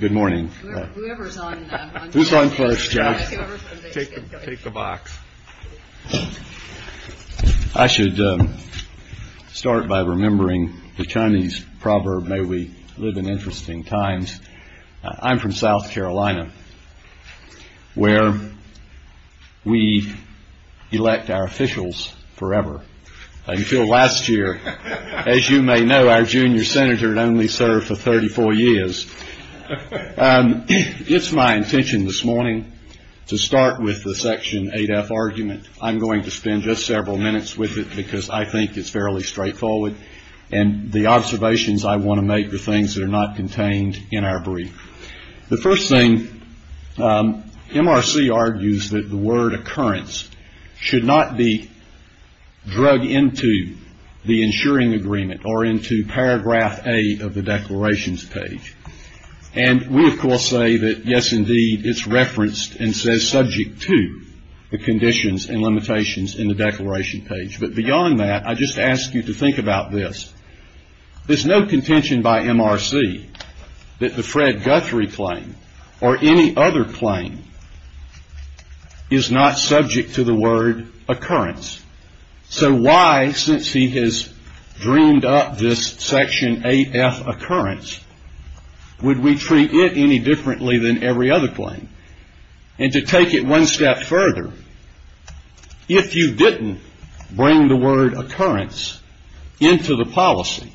Good morning. I should start by remembering the Chinese proverb, may we live in interesting times. I'm from South Carolina, where we elect our officials forever. Until last year, as you may know, our junior senator had only served for thirty-four years. It's my intention this morning to start with the Section 8F argument. I'm going to spend just several minutes with it, because I think it's fairly straightforward, and the observations I want to make are things that are not contained in our brief. The first thing, MRC argues that the word occurrence should not be drug into the insuring agreement or into paragraph A of the declarations page. And we, of course, say that, yes, indeed, it's referenced and says subject to the conditions and limitations in the declaration page. But beyond that, I just ask you to think about this. There's no contention by MRC that the Fred Guthrie claim or any other claim is not subject to the word occurrence. So why, since he has dreamed up this Section 8F occurrence, would we treat it any differently than every other claim? And to take it one step further, if you didn't bring the word occurrence into the policy,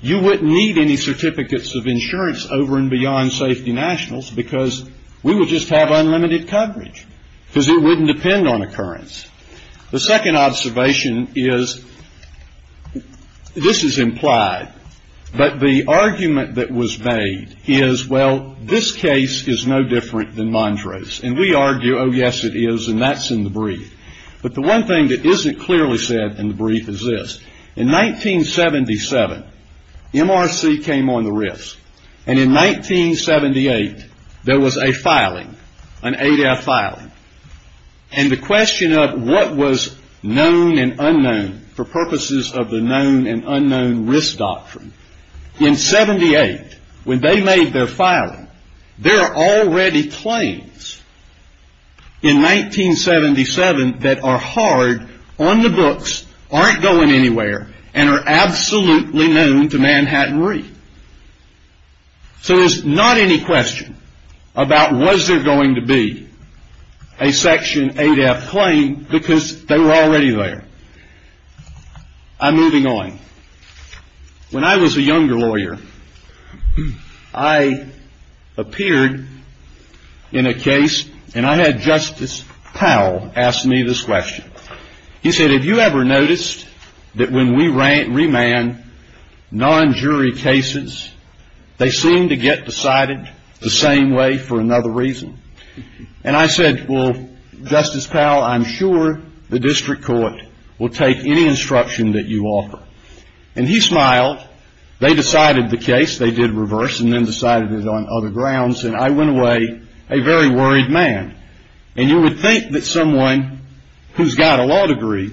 you wouldn't need any certificates of insurance over and beyond safety nationals, because we would just have unlimited coverage, because it wouldn't depend on occurrence. The second observation is, this is implied, but the argument that was made is, well, this case is no different than Mondra's. And we argue, oh, yes, it is, and that's in the brief. But the one thing that isn't clearly said in the brief is this. In 1977, MRC came on the risk. And in 1978, there was a filing, an 8F filing. And the question of what was known and unknown for purposes of the known and unknown risk doctrine, in 78, when they made their filing, there are already claims in 1977 that are hard, on the books, aren't going anywhere, and are absolutely known to Manhattan Reef. So there's not any question about was there going to be a Section 8F claim, because they were already there. I'm moving on. When I was a younger lawyer, I appeared in a case, and I had Justice Powell ask me this question. He said, have you ever noticed that when we remand non-jury cases, they seem to get decided the same way for another reason? And I said, well, Justice Powell, I'm sure the district court will take any instruction that you offer. And he smiled. They decided the case. They did reverse, and then decided it on other grounds. And I went away a very who's got a law degree,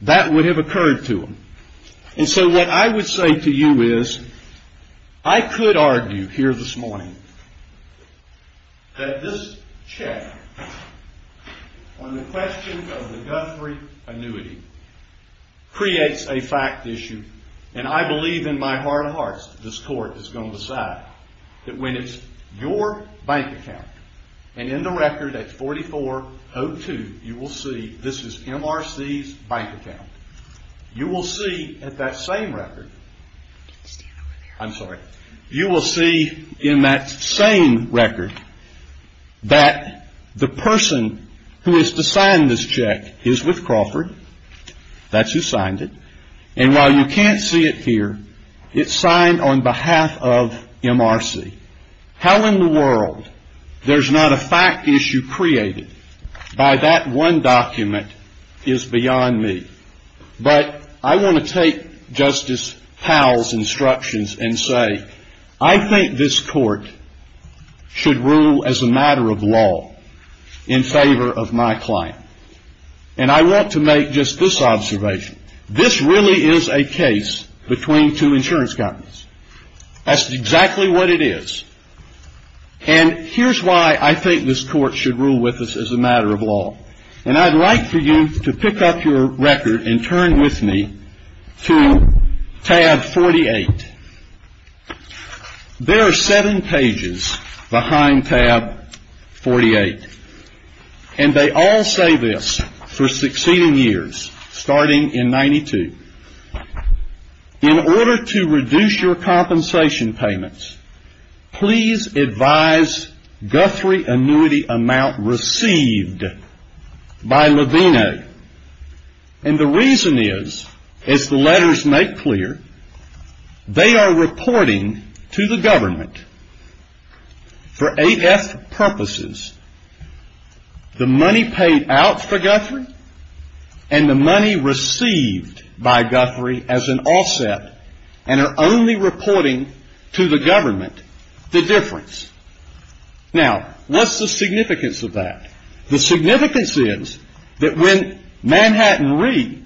that would have occurred to him. And so what I would say to you is, I could argue here this morning that this check on the question of the Guthrie annuity creates a fact issue. And I believe in my heart of hearts, this court is going to decide that when it's your bank account, and in the record at 4402, you will see this is MRC's bank account. You will see at that same record, you will see in that same record that the person who is to sign this check is with Crawford. That's who signed it. And while you can't see it here, it's signed on behalf of MRC. How in the world there's not a fact issue created by that one document is beyond me. But I want to take Justice Powell's instructions and say, I think this court should rule as a matter of law in favor of my client. And I want to make just this observation. This really is a case between two insurance companies. That's exactly what it is. And here's why I think this court should rule with us as a matter of law. And I'd like for you to pick up your record and turn with me to tab 48. There are seven pages behind tab 48. And they all say this for succeeding years, starting in 92. In order to reduce your compensation payments, please advise Guthrie annuity amount received by Levino. And the reason is, as the letters make clear, they are reporting to the government for AF purposes the money paid out for Guthrie and the money received by Guthrie as an offset and are only reporting to the government the difference. Now, what's the significance of that? The significance is that when Manhattan Re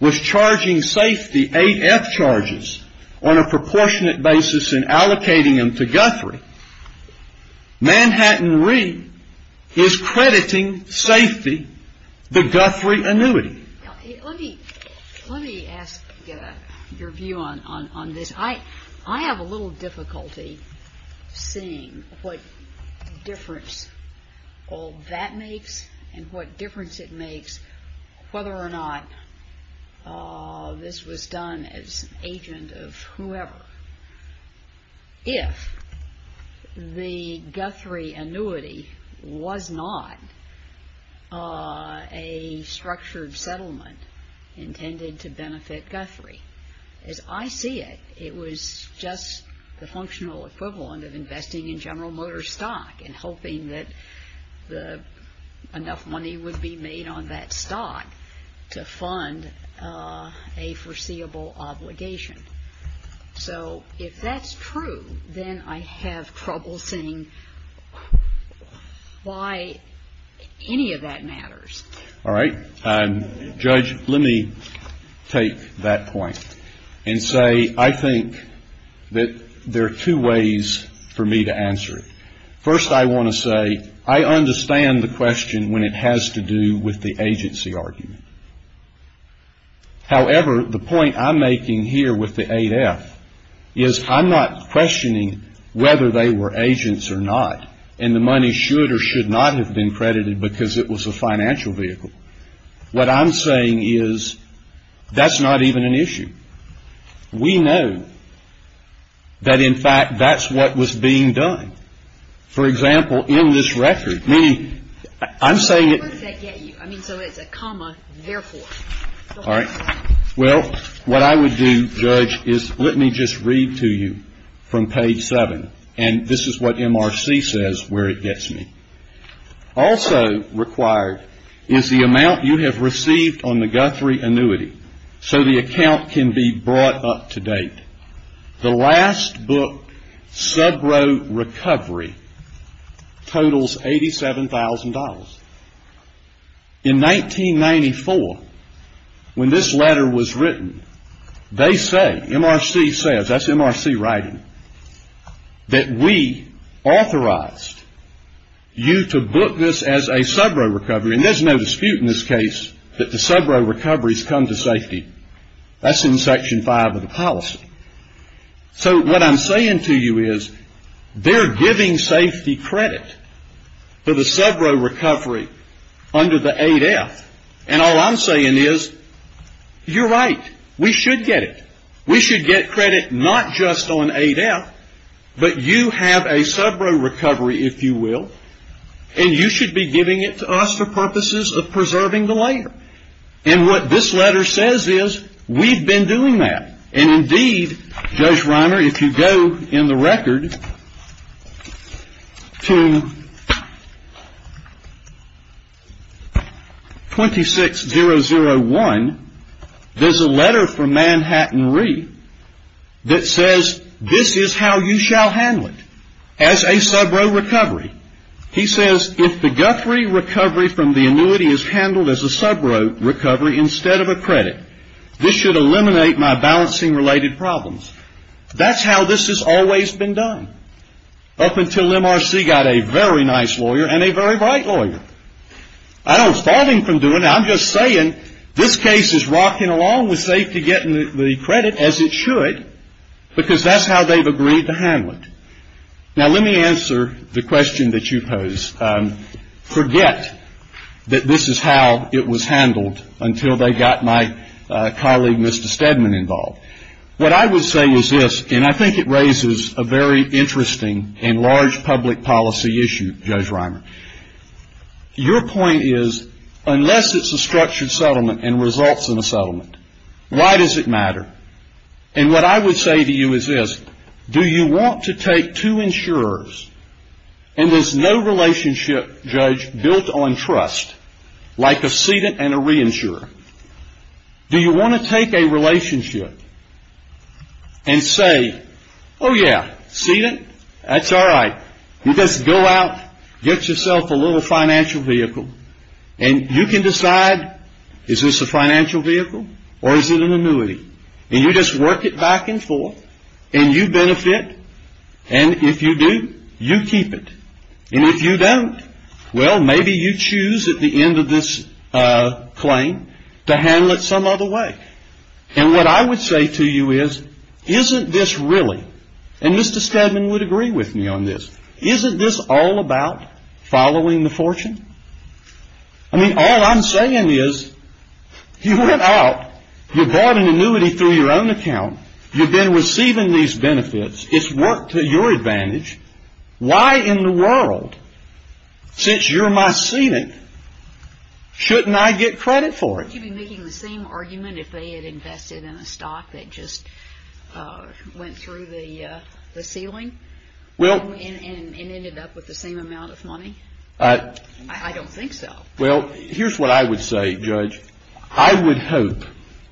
was charging safety AF charges on a proportionate basis in allocating them to Guthrie, Manhattan Re is crediting safety the Guthrie annuity. Let me ask your view on this. I have a little difficulty seeing what difference all that makes and what difference it makes whether or not this was done as an agent of whoever. If the Guthrie annuity was not a structured settlement intended to benefit Guthrie, as I see it, it was just the functional equivalent of investing in General Motors stock and hoping that enough money would be made on that stock to fund a foreseeable obligation. So if that's true, then I have trouble seeing why any of that matters. All right. Judge, let me take that point and say I think that there are two ways for me to answer it. First, I want to say I understand the question when it has to do with the agency argument. However, the point I'm making here with the 8F is I'm not questioning whether they were agents or not, and the money should or should not have been credited because it was a financial vehicle. What I'm saying is that's not even an issue. We know that in the case of the Guthrie annuity, it was a financial vehicle that was being done. For example, in this record, meaning I'm saying it. Where does that get you? I mean, so it's a comma, therefore. All right. Well, what I would do, Judge, is let me just read to you from page 7, and this is what MRC says where it gets me. Also required is the amount you have received on the Guthrie annuity so the account can be brought up to date. The last book, Subro Recovery, totals $87,000. In 1994, when this letter was written, they say, MRC says, that's MRC writing, that we authorized you to book this as a Subro Recovery, and there's no dispute in this case that the Subro Recoveries come to safety. That's in Section 5 of the policy. So what I'm saying to you is, they're giving safety credit for the Subro Recovery under the 8F, and all I'm saying is, you're right. We should get it. We should get credit not just on 8F, but you have a Subro Recovery, if you will, and you should be giving it to us for purposes of preserving the later. And what this letter says is, we've been doing that, and indeed, Judge Reimer, if you go in the record to 26001, there's a letter from Manhattan Re that says, this is how you shall handle it, as a Subro Recovery. He says, if the Guthrie recovery from the annuity is handled as a Subro Recovery instead of a credit, this should eliminate my balancing-related problems. That's how this has always been done, up until MRC got a very nice lawyer and a very bright lawyer. I don't fault him for doing it. I'm just saying, this case is rocking along with safety getting the credit as it should, because that's how they've agreed to handle it. Now, let me answer the question that you pose. Forget that this is how it was handled until they got my colleague, Mr. Steadman, involved. What I would say is this, and I think it raises a very interesting and large public policy issue, Judge Reimer. Your point is, unless it's a structured settlement and results in settlement, why does it matter? And what I would say to you is this, do you want to take two insurers, and there's no relationship, Judge, built on trust, like a sedent and a reinsurer, do you want to take a relationship and say, oh, yeah, sedent, that's all right. You just go out, get yourself a little financial vehicle, and you can decide, is this a financial vehicle, or is it an annuity? And you just work it back and forth, and you benefit, and if you do, you keep it. And if you don't, well, maybe you choose at the end of this claim to handle it some other way. And what I would say to you is, isn't this really, and Mr. Steadman would agree with me on this, isn't this all about following the fortune? I mean, all I'm saying is, you went out, you bought an annuity through your own account, you've been receiving these benefits, it's worked to your advantage, why in the world, since you're my sedent, shouldn't I get credit for it? Would you be making the same argument if they had invested in a stock that just went through the ceiling? And ended up with the same amount of money? I don't think so. Well, here's what I would say, Judge. I would hope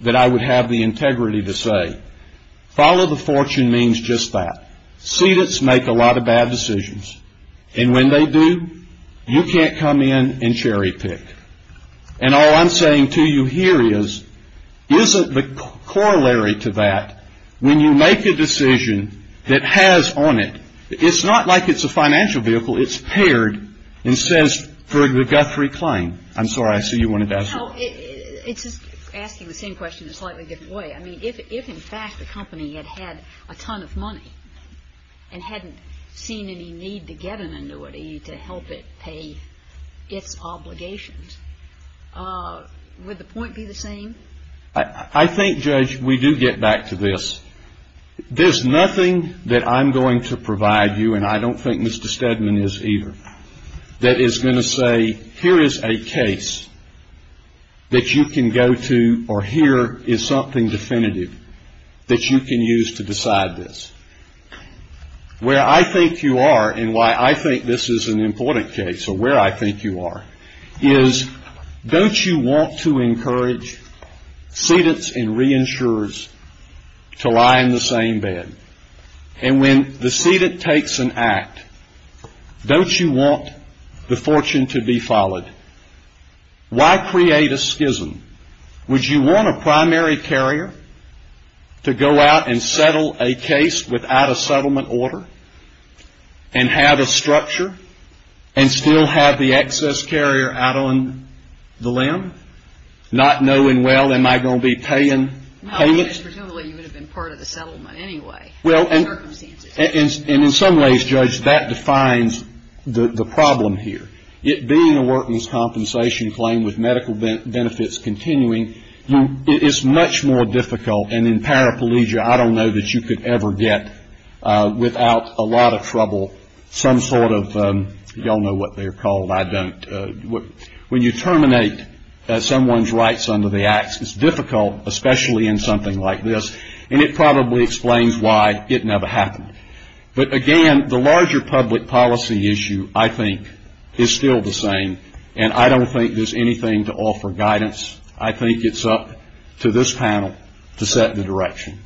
that I would have the integrity to say, follow the fortune means just that. Sedents make a lot of bad decisions, and when they do, you can't come in and cherry pick. And all I'm saying to you here is, isn't the corollary to that, when you make a decision that has on it, it's not like it's a financial vehicle, it's paired, and says, for the Guthrie claim. I'm sorry, I see you wanted to ask a question. No, it's just asking the same question in a slightly different way. I mean, if in fact the company had had a ton of money, and hadn't seen any need to get an annuity to help it pay its obligations, would the point be the same? I think, Judge, we do get back to this. There's nothing that I'm going to provide you, and I don't think Mr. Steadman is either, that is going to say, here is a case that you can go to, or here is something definitive that you can use to decide this. Where I think you are, and why I think this is an important case, or where I think you are, is, don't you want to encourage sedents and reinsurers to lie in the same bed? And when the sedent takes an act, don't you want the fortune to be followed? Why create a schism? Would you want a primary carrier to go out and settle a case without a settlement order, and have a structure, and still have the excess carrier out on the limb, not knowing, well, am I going to be paying payments? No, but it's presumably you would have been part of the settlement anyway. Well, and in some ways, Judge, that defines the problem here. It being a workman's compensation claim with medical benefits continuing, it is much more difficult, and in paraplegia, I don't know that you could ever get, without a lot of trouble, some sort of, you all know what they're called, I don't. When you terminate someone's rights under the acts, it's difficult, especially in something like this, and it probably explains why it never happened. But again, the larger public policy issue, I think, is still the same, and I don't think there's anything to offer guidance. I think it's up to this panel to set the direction.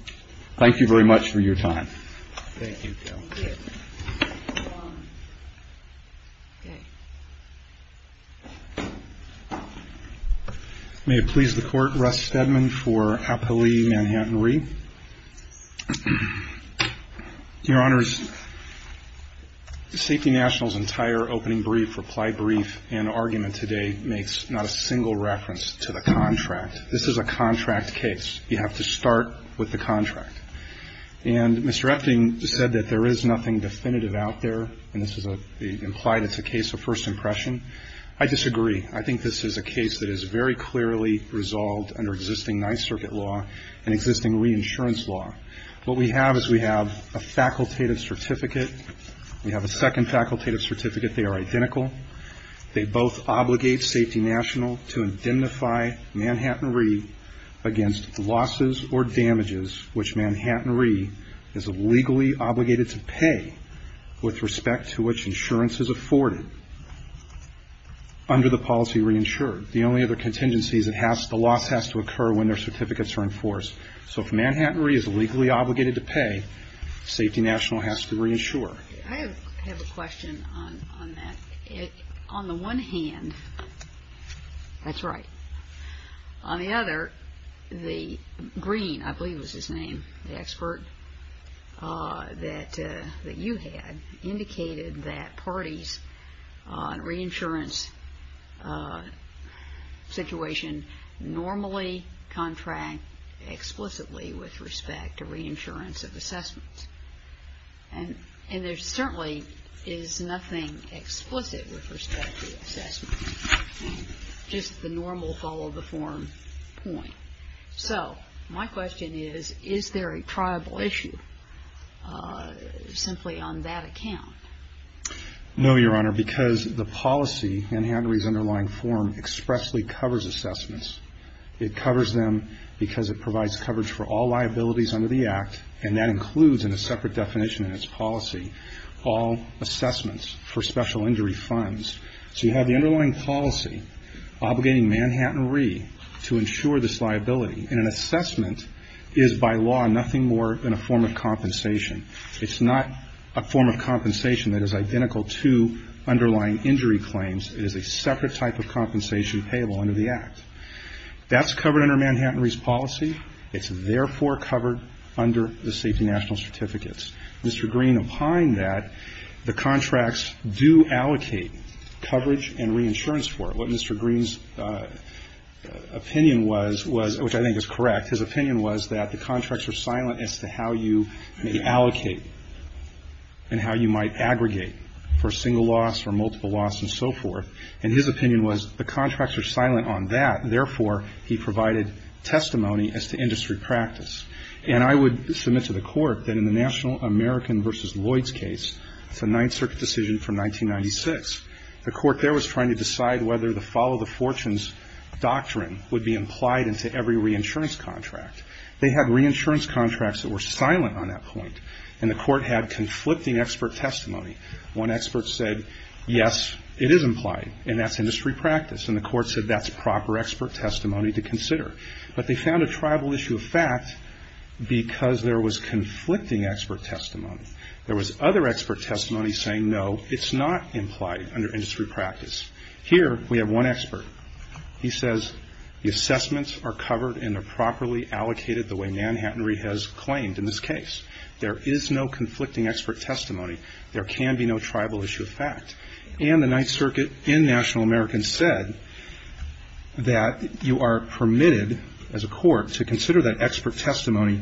Thank you very much for your time. Thank you, Joe. May it please the Court. Russ Steadman for Appali Manhattan Re. Your Honors, Safety National's entire opening brief, reply brief, and argument today makes not a single reference to the contract. This is a contract case. You have to start with the contract. And Mr. Efting said that there is nothing definitive out there, and this is a, implied it's a case of first impression. I disagree. I think this is a case that is very clearly resolved under existing Ninth Circuit law and existing reinsurance law. What we have is we have a facultative certificate. We have a second facultative certificate. They are identical. They both obligate Safety National to indemnify Manhattan Re. against losses or damages which Manhattan Re. is legally obligated to pay with respect to which insurance is afforded under the policy reinsured. The only other contingency is the loss has to occur when their certificates are enforced. So if Manhattan Re. is legally obligated to pay, Safety National has to reinsure. I have a question on that. On the one hand, that's right. On the other, the green, I believe was his name, the expert that you had, indicated that parties on reinsurance situation normally explicitly with respect to reinsurance of assessments. And there certainly is nothing explicit with respect to assessments, just the normal follow-the-form point. So my question is, is there a triable issue simply on that account? No, Your Honor, because the policy in Manhattan Re.'s underlying form expressly covers assessments. It covers them because it provides coverage for all liabilities under the Act, and that includes in a separate definition in its policy all assessments for special injury funds. So you have the underlying policy obligating Manhattan Re. to insure this liability. And an assessment is by law nothing more than a form of compensation. It's not a form of compensation that is identical to underlying injury claims. It is a separate type of compensation payable under the Act. That's covered under Manhattan Re.'s policy. It's therefore covered under the Safety National Certificates. Mr. Green, upon that, the contracts do allocate coverage and reinsurance for it. What Mr. Green's opinion was, which I think is correct, his opinion was that the contracts are silent as to how you may allocate and how you might therefore he provided testimony as to industry practice. And I would submit to the Court that in the National American v. Lloyds case, it's a Ninth Circuit decision from 1996. The Court there was trying to decide whether the follow the fortunes doctrine would be implied into every reinsurance contract. They had reinsurance contracts that were silent on that point. And the Court had conflicting expert testimony. One expert said, yes, it is implied, and that's proper expert testimony to consider. But they found a tribal issue of fact because there was conflicting expert testimony. There was other expert testimony saying, no, it's not implied under industry practice. Here we have one expert. He says the assessments are covered and are properly allocated the way Manhattan Re. has claimed in this case. There is no conflicting expert testimony. There can be no tribal issue of fact. And the Ninth Circuit in National American said that you are permitted as a court to consider that expert testimony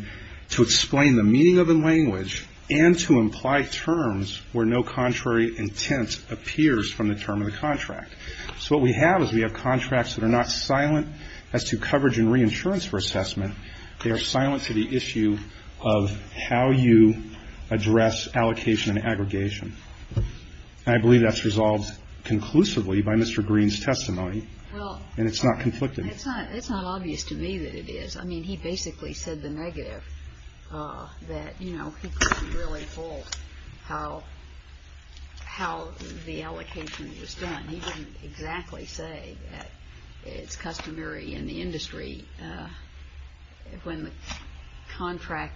to explain the meaning of the language and to imply terms where no contrary intent appears from the term of the contract. So what we have is we have contracts that are not silent as to coverage and reinsurance for assessment. They are silent to the issue of how you address allocation and to aggregate assessments. I don't think. Okay. Okay. Okay. Okay. Okay. Okay. Okay. Okay. Okay. Okay.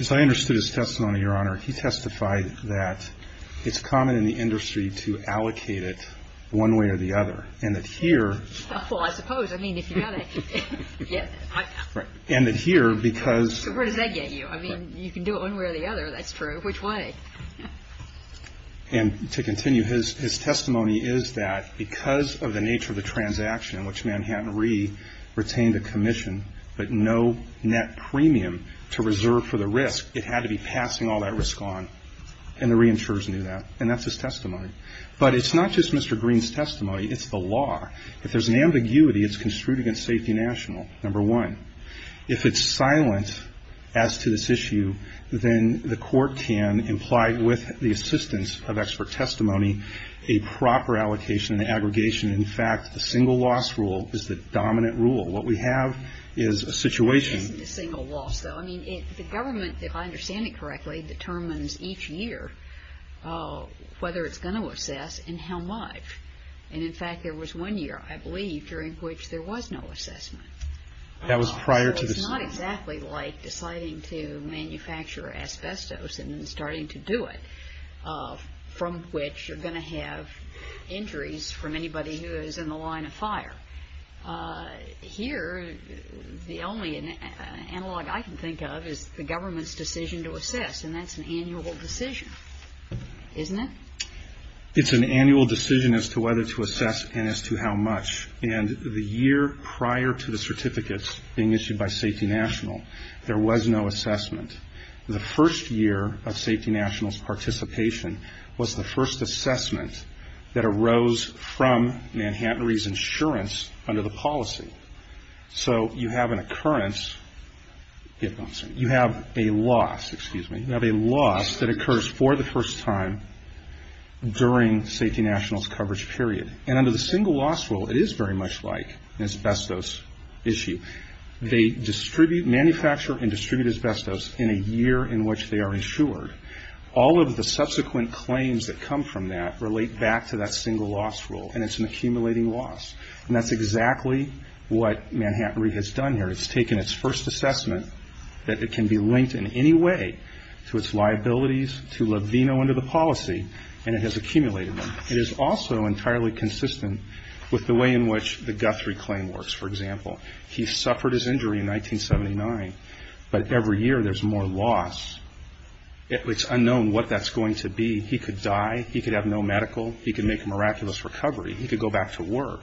So I understood his testimony, Your Honor. He testified that it's common in the industry to allocate it one way or the other and that here.... Well, I suppose. Right. And that here, because. Where does that get you? I mean, you can do it one way or the other, that's true. Which way? And to continue, his testimony is that because of the nature of the transaction which Manhattan RE retained a commission, but no net premium to reserve for the risk. It had to be passing all that risk on, and the reinsurers knew that, and that's his testimony. But it's not just Mr. Green's testimony, it's the law. If there's an ambiguity, it's construed against Safety National, number one. If it's silent as to this issue, then the court can, implied with the assistance of expert testimony, a proper allocation and aggregation. In fact, the single loss rule is the dominant rule. What we have is a situation. It isn't a single loss, though. I mean, the government, if I understand it correctly, determines each year whether it's going to assess and how much. And in fact, there was one year, I believe, during which there was no assessment. That was prior to this. So it's not exactly like deciding to manufacture asbestos and then starting to do it, from which you're going to have injuries from anybody who is in the line of fire. Here, the only analog I can think of is the government's decision to assess, and that's an annual decision, isn't it? It's an annual decision as to whether to assess and as to how much. And the year prior to the certificates being issued by Safety National, there was no assessment. The first year of Safety National's participation was the first assessment that arose from Manhattan Re's insurance under the policy. So you have an occurrence, you have a loss, excuse me, you have a loss that occurs for the first time during Safety National's coverage period. And under the single loss rule, it is very much like an asbestos issue. They distribute, manufacture and distribute asbestos in a year in which they are insured. All of the subsequent claims that come from that relate back to that single loss rule, and it's an accumulating loss. And that's exactly what Manhattan Re has done here. It's taken its first assessment that it can be linked in any way to its liabilities, to Levino under the policy, and it has accumulated them. It is also entirely consistent with the way in which the Guthrie claim works, for example. He suffered his injury in 1979, but every year there's more loss. It's unknown what that's going to be. He could die. He could have no medical. He could make a miraculous recovery. He could go back to work.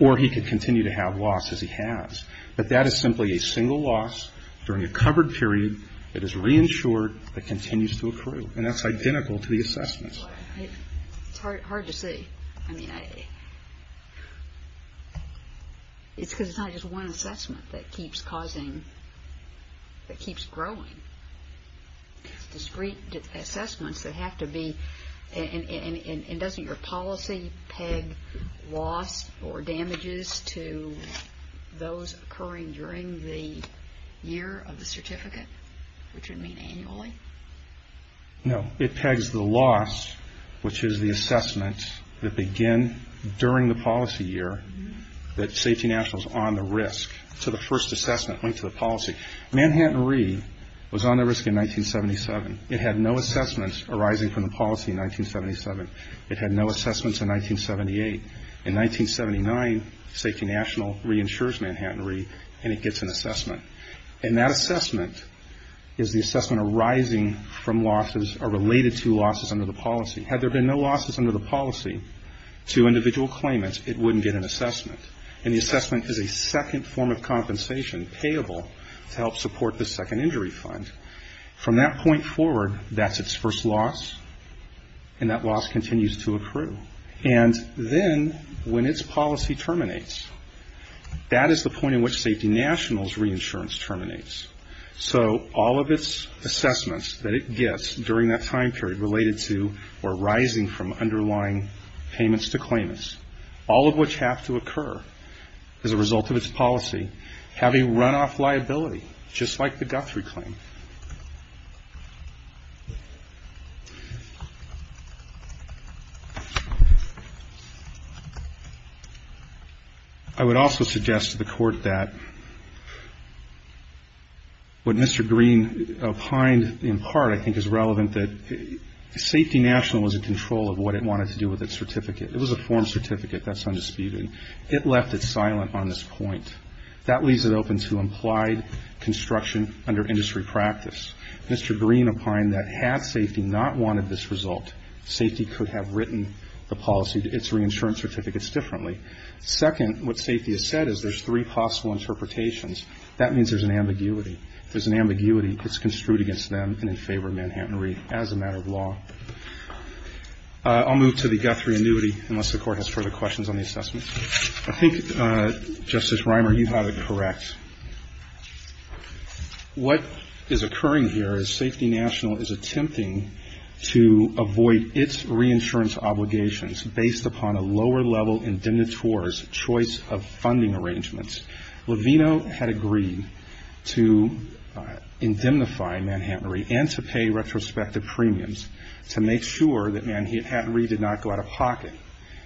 Or he could continue to have loss as he has. But that is simply a single loss during a covered period that is reinsured that continues to accrue. And that's identical to the assessment. It's hard to see. I mean, it's because it's not just one assessment that keeps causing, that keeps growing. It's discrete assessments that have to be, and doesn't your policy peg loss or damages to those occurring during the year of the certificate, which would mean annually? No. It pegs the loss, which is the assessment that begin during the policy year, that Safety National is on the risk to the first assessment linked to the policy. Manhattan RE was on the risk in 1977. It had no assessments arising from the policy in 1977. It had no assessments in 1978. In 1979, Safety National reinsures Manhattan RE, and it gets an assessment. And that assessment is the assessment arising from losses or related to losses under the policy. Had there been no losses under the policy to individual claimants, it wouldn't get an assessment. And the assessment is a second form of compensation, payable, to help support the Second Injury Fund. From that point forward, that's its first loss, and that loss continues to accrue. And then when its policy terminates, that is the point in which Safety National's reinsurance terminates. So all of its assessments that it gets during that time period related to or rising from underlying payments to claimants, all of which have to occur as a result of its policy, have a runoff liability, just like the Guthrie claim. I would also suggest to the Court that what Mr. Green opined in part I think is relevant, that Safety National was in control of what it wanted to do with its certificate. It was a form certificate. That's undisputed. It left it silent on this point. That leaves it open to implied construction under industry practice. Mr. Green opined that had Safety not wanted this result, Safety could have written the policy, its reinsurance certificates differently. Second, what Safety has said is there's three possible interpretations. That means there's an ambiguity. If there's an ambiguity, it gets construed against them and in favor of Manhattan Re as a matter of law. I'll move to the Guthrie annuity unless the Court has further questions on the assessment. I think, Justice Reimer, you have it correct. What is occurring here is Safety National is attempting to avoid its reinsurance obligations based upon a lower-level indemnitores choice of funding arrangements. Levino had agreed to indemnify Manhattan Re and to pay retrospective premiums to make sure that Manhattan Re did not go out of pocket.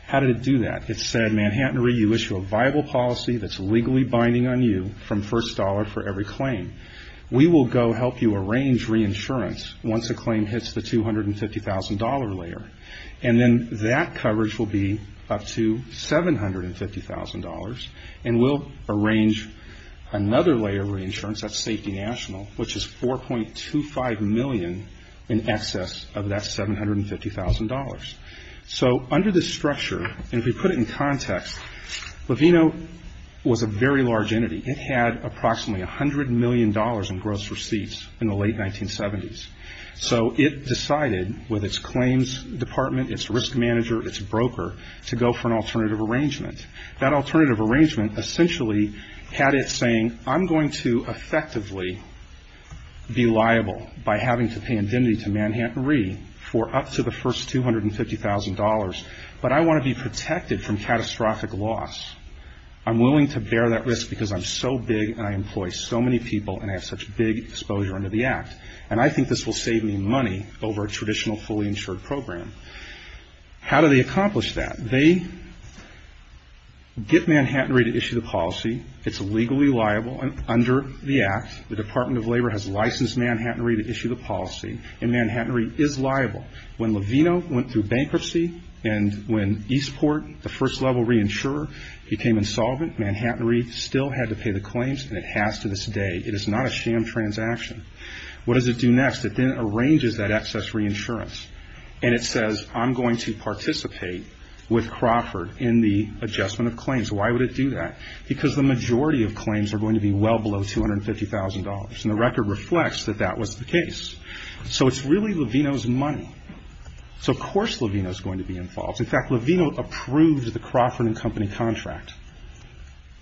How did it do that? It said, Manhattan Re, you issue a viable policy that's legally binding on you from first dollar for every claim. We will go help you arrange reinsurance once a claim hits the $250,000 layer. And then that coverage will be up to $750,000. And we'll arrange another layer of reinsurance, that's Safety National, which is $4.25 million in excess of that $750,000. So under this structure, and if we put it in context, Levino was a very large entity. It had approximately $100 million in gross receipts in the late 1970s. So it decided, with its claims department, its risk manager, its broker, to go for an alternative arrangement. That alternative arrangement essentially had it saying, I'm going to effectively be liable by having to pay indemnity to Manhattan Re for up to the first $250,000, but I want to be protected from catastrophic loss. I'm willing to bear that risk because I'm so big and I employ so many people and I have such big exposure under the Act, and I think this will save me money over a traditional fully insured program. How do they accomplish that? They get Manhattan Re to issue the policy. It's legally liable under the Act. The Department of Labor has licensed Manhattan Re to issue the policy, and Manhattan Re is liable. When Levino went through bankruptcy and when Eastport, the first level reinsurer, became insolvent, Manhattan Re still had to pay the claims, and it has to this day. It is not a sham transaction. What does it do next? It then arranges that excess reinsurance, and it says, I'm going to participate with Crawford in the adjustment of claims. Why would it do that? Because the majority of claims are going to be well below $250,000, so it's really Levino's money, so of course Levino is going to be involved. In fact, Levino approved the Crawford & Company contract.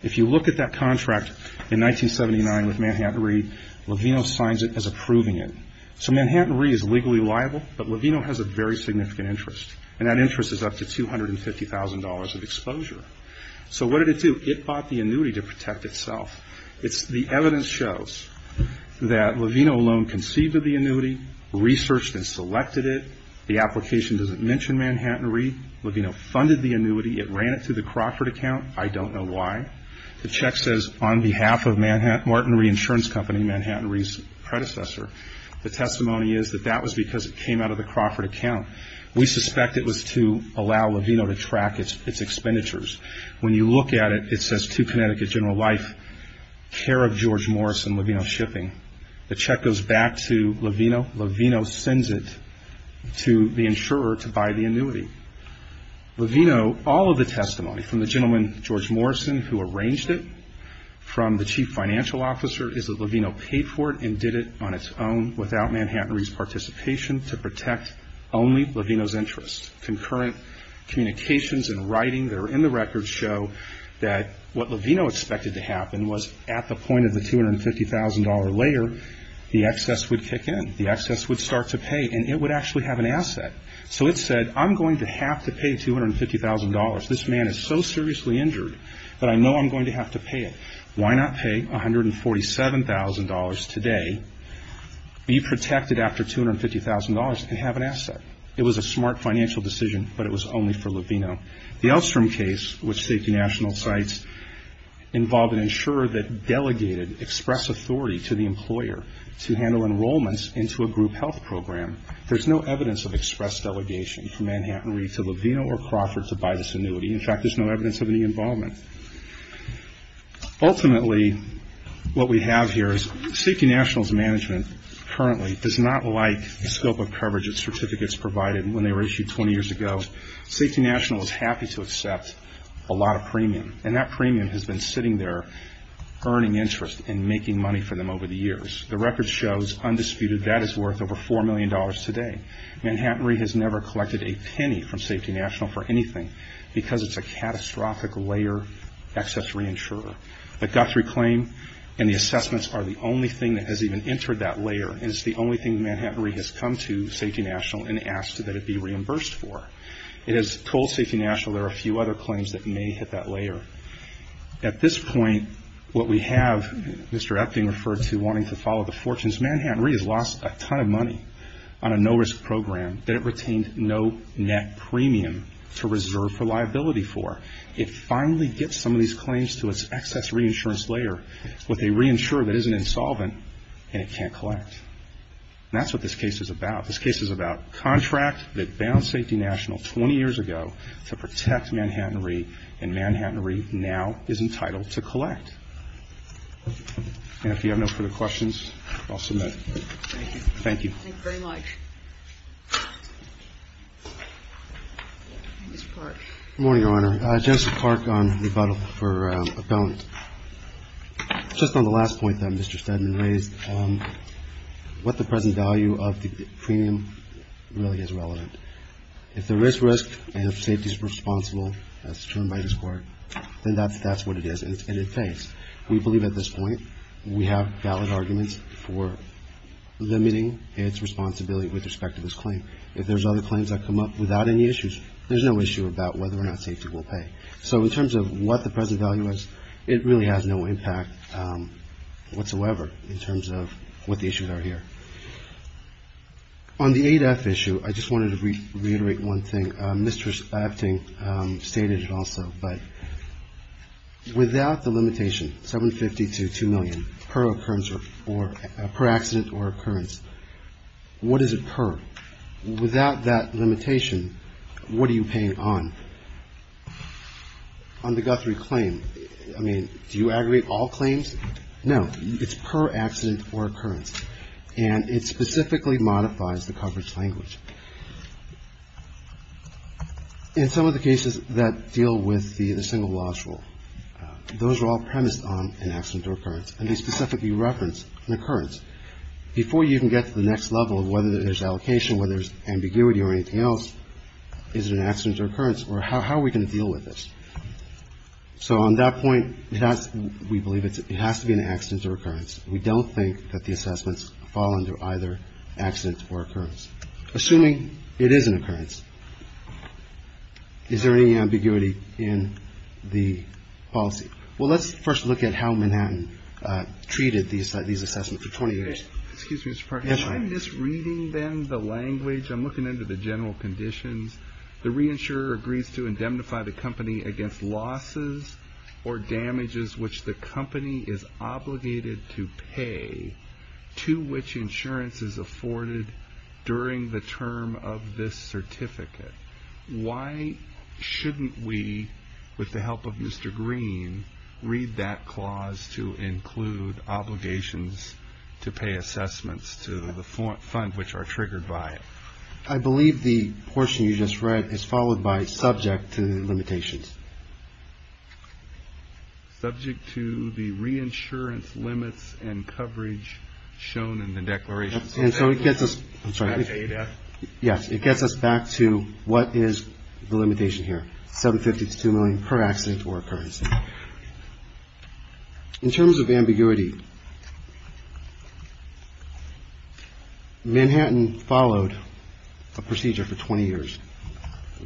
If you look at that contract in 1979 with Manhattan Re, Levino signs it as approving it. So Manhattan Re is legally liable, but Levino has a very significant interest, and that interest is up to $250,000 of exposure. So what did it do? It bought the annuity to protect itself. The evidence shows that Levino alone conceived of the annuity, researched and selected it. The application doesn't mention Manhattan Re. Levino funded the annuity. It ran it through the Crawford account. I don't know why. The check says on behalf of Manhattan Re Insurance Company, Manhattan Re's predecessor. The testimony is that that was because it came out of the Crawford account. We suspect it was to allow Levino to track its expenditures. When you look at it, it says to Connecticut General Life, care of George Morrison, Levino Shipping. The check goes back to Levino. Levino sends it to the insurer to buy the annuity. Levino, all of the testimony from the gentleman, George Morrison, who arranged it, from the chief financial officer is that Levino paid for it and did it on its own without Manhattan Re's participation to protect only Levino's interests. Concurrent communications and writing that are in the record show that what Levino expected to happen was at the point of the $250,000 layer, the excess would kick in. The excess would start to pay, and it would actually have an asset. So it said, I'm going to have to pay $250,000. This man is so seriously injured that I know I'm going to have to pay it. Why not pay $147,000 today, be protected after $250,000, and have an asset? It was a smart financial decision, but it was only for Levino. The Elstrom case, which CQ National cites, involved an insurer that delegated express authority to the employer to handle enrollments into a group health program. There's no evidence of express delegation from Manhattan Re to Levino or Crawford to buy this annuity. In fact, there's no evidence of any involvement. Ultimately, what we have here is Safety National's management currently does not like the scope of coverage that certificates provided when they were issued 20 years ago. Safety National is happy to accept a lot of premium, and that premium has been sitting there earning interest and making money for them over the years. The record shows, undisputed, that is worth over $4 million today. Manhattan Re has never collected a penny from Safety National for anything, because it's a catastrophic layer excess re-insurer. The Guthrie claim and the assessments are the only thing that has even entered that layer. It's the only thing that Manhattan Re has come to Safety National and asked that it be reimbursed for. It has told Safety National there are a few other claims that may hit that layer. At this point, what we have Mr. Epting refer to wanting to follow the fortunes, Manhattan Re has lost a ton of money on a no-risk program that it retained no net premium to reserve for liability for. It finally gets some of these claims to its excess re-insurance layer with a re-insurer that isn't insolvent and it can't collect. And that's what this case is about. This case is about contract that bound Safety National 20 years ago to protect Manhattan Re, and Manhattan Re now is entitled to collect. And if you have no further questions, I'll submit. Thank you. Thank you. Thank you very much. Mr. Clark. Good morning, Your Honor. Justice Clark on rebuttal for appellant. Just on the last point that Mr. Steadman raised, what the present value of the premium really is relevant. If there is risk and if safety is responsible, as determined by this Court, then that's what it is. We believe at this point we have valid arguments for limiting its responsibility with respect to this claim. If there's other claims that come up without any issues, there's no issue about whether or not safety will pay. So in terms of what the present value is, it really has no impact whatsoever in terms of what the issues are here. On the 8F issue, I just wanted to reiterate one thing. Mr. Abting stated it also, but without the limitation, 750 to 2 million per occurrence or per accident or occurrence, what is it per? Without that limitation, what are you paying on? On the Guthrie claim, I mean, do you aggregate all claims? No, it's per accident or occurrence. And it specifically modifies the coverage language. In some of the cases that deal with the single loss rule, those are all premised on an accident or occurrence, and they specifically reference an occurrence. Before you can get to the next level of whether there's allocation, whether there's ambiguity or anything else, is it an accident or occurrence, or how are we going to deal with this? So on that point, we believe it has to be an accident or occurrence. We don't think that the assessments fall under either accident or occurrence. Assuming it is an occurrence, is there any ambiguity in the policy? Well, let's first look at how Manhattan treated these assessments for 20 years. Excuse me, Mr. Parker, am I misreading then the language? I'm looking into the general conditions. The reinsurer agrees to indemnify the company against losses or damages which the company is obligated to pay to which insurance is afforded during the term of this certificate. Why shouldn't we, with the help of Mr. Green, read that clause to include obligations to pay assessments to the fund which are triggered by it? I believe the portion you just read is followed by subject to limitations. Subject to the reinsurance limits and coverage shown in the declaration. And so it gets us back to what is the limitation here, $750 to $2 million per accident or occurrence. In terms of ambiguity, Manhattan followed a procedure for 20 years.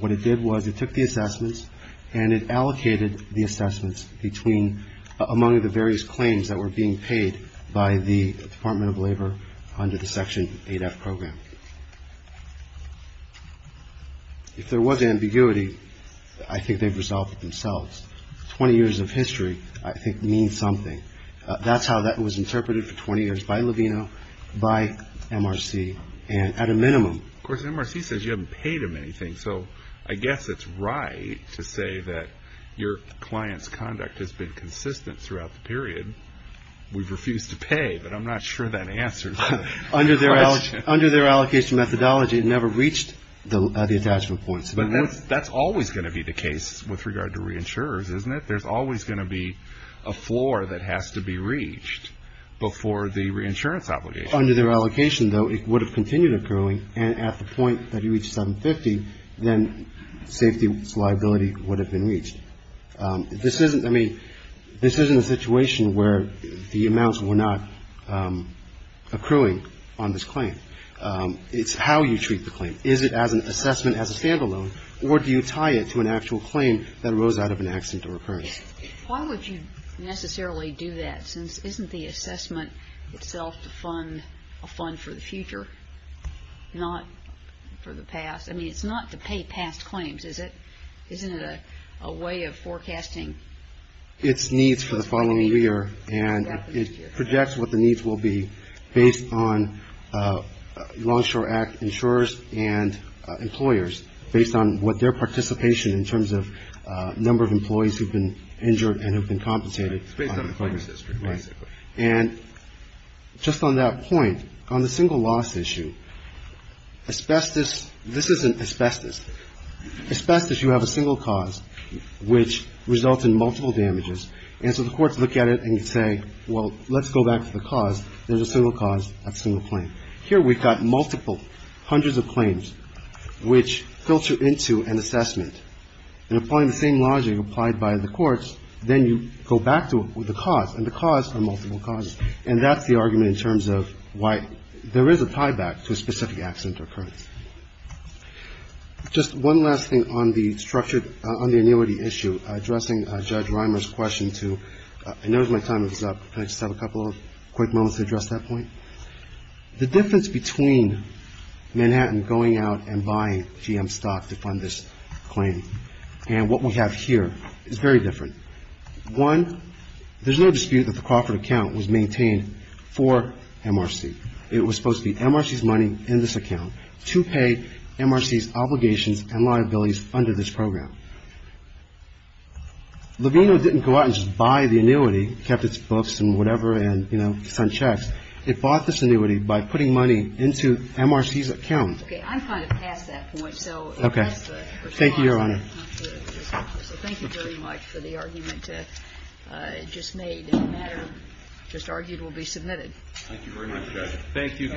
What it did was it took the assessments and it allocated the assessments between among the various claims that were being paid by the Department of Labor under the Section 8F program. If there was ambiguity, I think they've resolved it themselves. 20 years of history, I think, means something. That's how that was interpreted for 20 years by Levino, by MRC, and at a minimum. Of course, MRC says you haven't paid them anything. So I guess it's right to say that your client's conduct has been consistent throughout the period. We've refused to pay, but I'm not sure that answers the question. Under their allocation methodology, it never reached the attachment points. But that's always going to be the case with regard to reinsurers, isn't it? There's always going to be a floor that has to be reached before the reinsurance obligation. Under their allocation, though, it would have continued occurring, and at the point that you reach $750, then safety's liability would have been reached. This isn't, I mean, this isn't a situation where the amounts were not accruing on this claim. It's how you treat the claim. Is it as an assessment, as a standalone, or do you tie it to an actual claim that arose out of an accident or occurrence? Why would you necessarily do that, since isn't the assessment itself to fund a fund for the future, not for the past? I mean, it's not to pay past claims, is it? Isn't it a way of forecasting? It's needs for the following year, and it projects what the needs will be based on Longshore Act insurers and employers, based on what their participation in terms of number of employees who've been injured and have been compensated. It's based on the claims history, basically. And just on that point, on the single loss issue, asbestos, this isn't asbestos. Asbestos, you have a single cause, which results in multiple damages. And so the courts look at it and say, well, let's go back to the cause. There's a single cause, that's a single claim. Here we've got multiple, hundreds of claims, which filter into an assessment. And applying the same logic applied by the courts, then you go back to the cause, and the cause are multiple causes. And that's the argument in terms of why there is a tie-back to a specific accident or occurrence. Just one last thing on the structured — on the annuity issue, addressing Judge Reimer's question to — I noticed my time was up. Can I just have a couple of quick moments to address that point? The difference between Manhattan going out and buying GM stock to fund this claim and what we have here is very different. One, there's no dispute that the Crawford account was maintained for MRC. It was supposed to be MRC's money in this account to pay MRC's obligations and liabilities under this program. Levino didn't go out and just buy the annuity, kept its books and whatever and, you know, signed checks. It bought this annuity by putting money into MRC's account. Okay. I'm kind of past that point, so — Okay. Thank you, Your Honor. So thank you very much for the argument just made. And the matter just argued will be submitted. Thank you very much, Judge. Thank you, Counsel.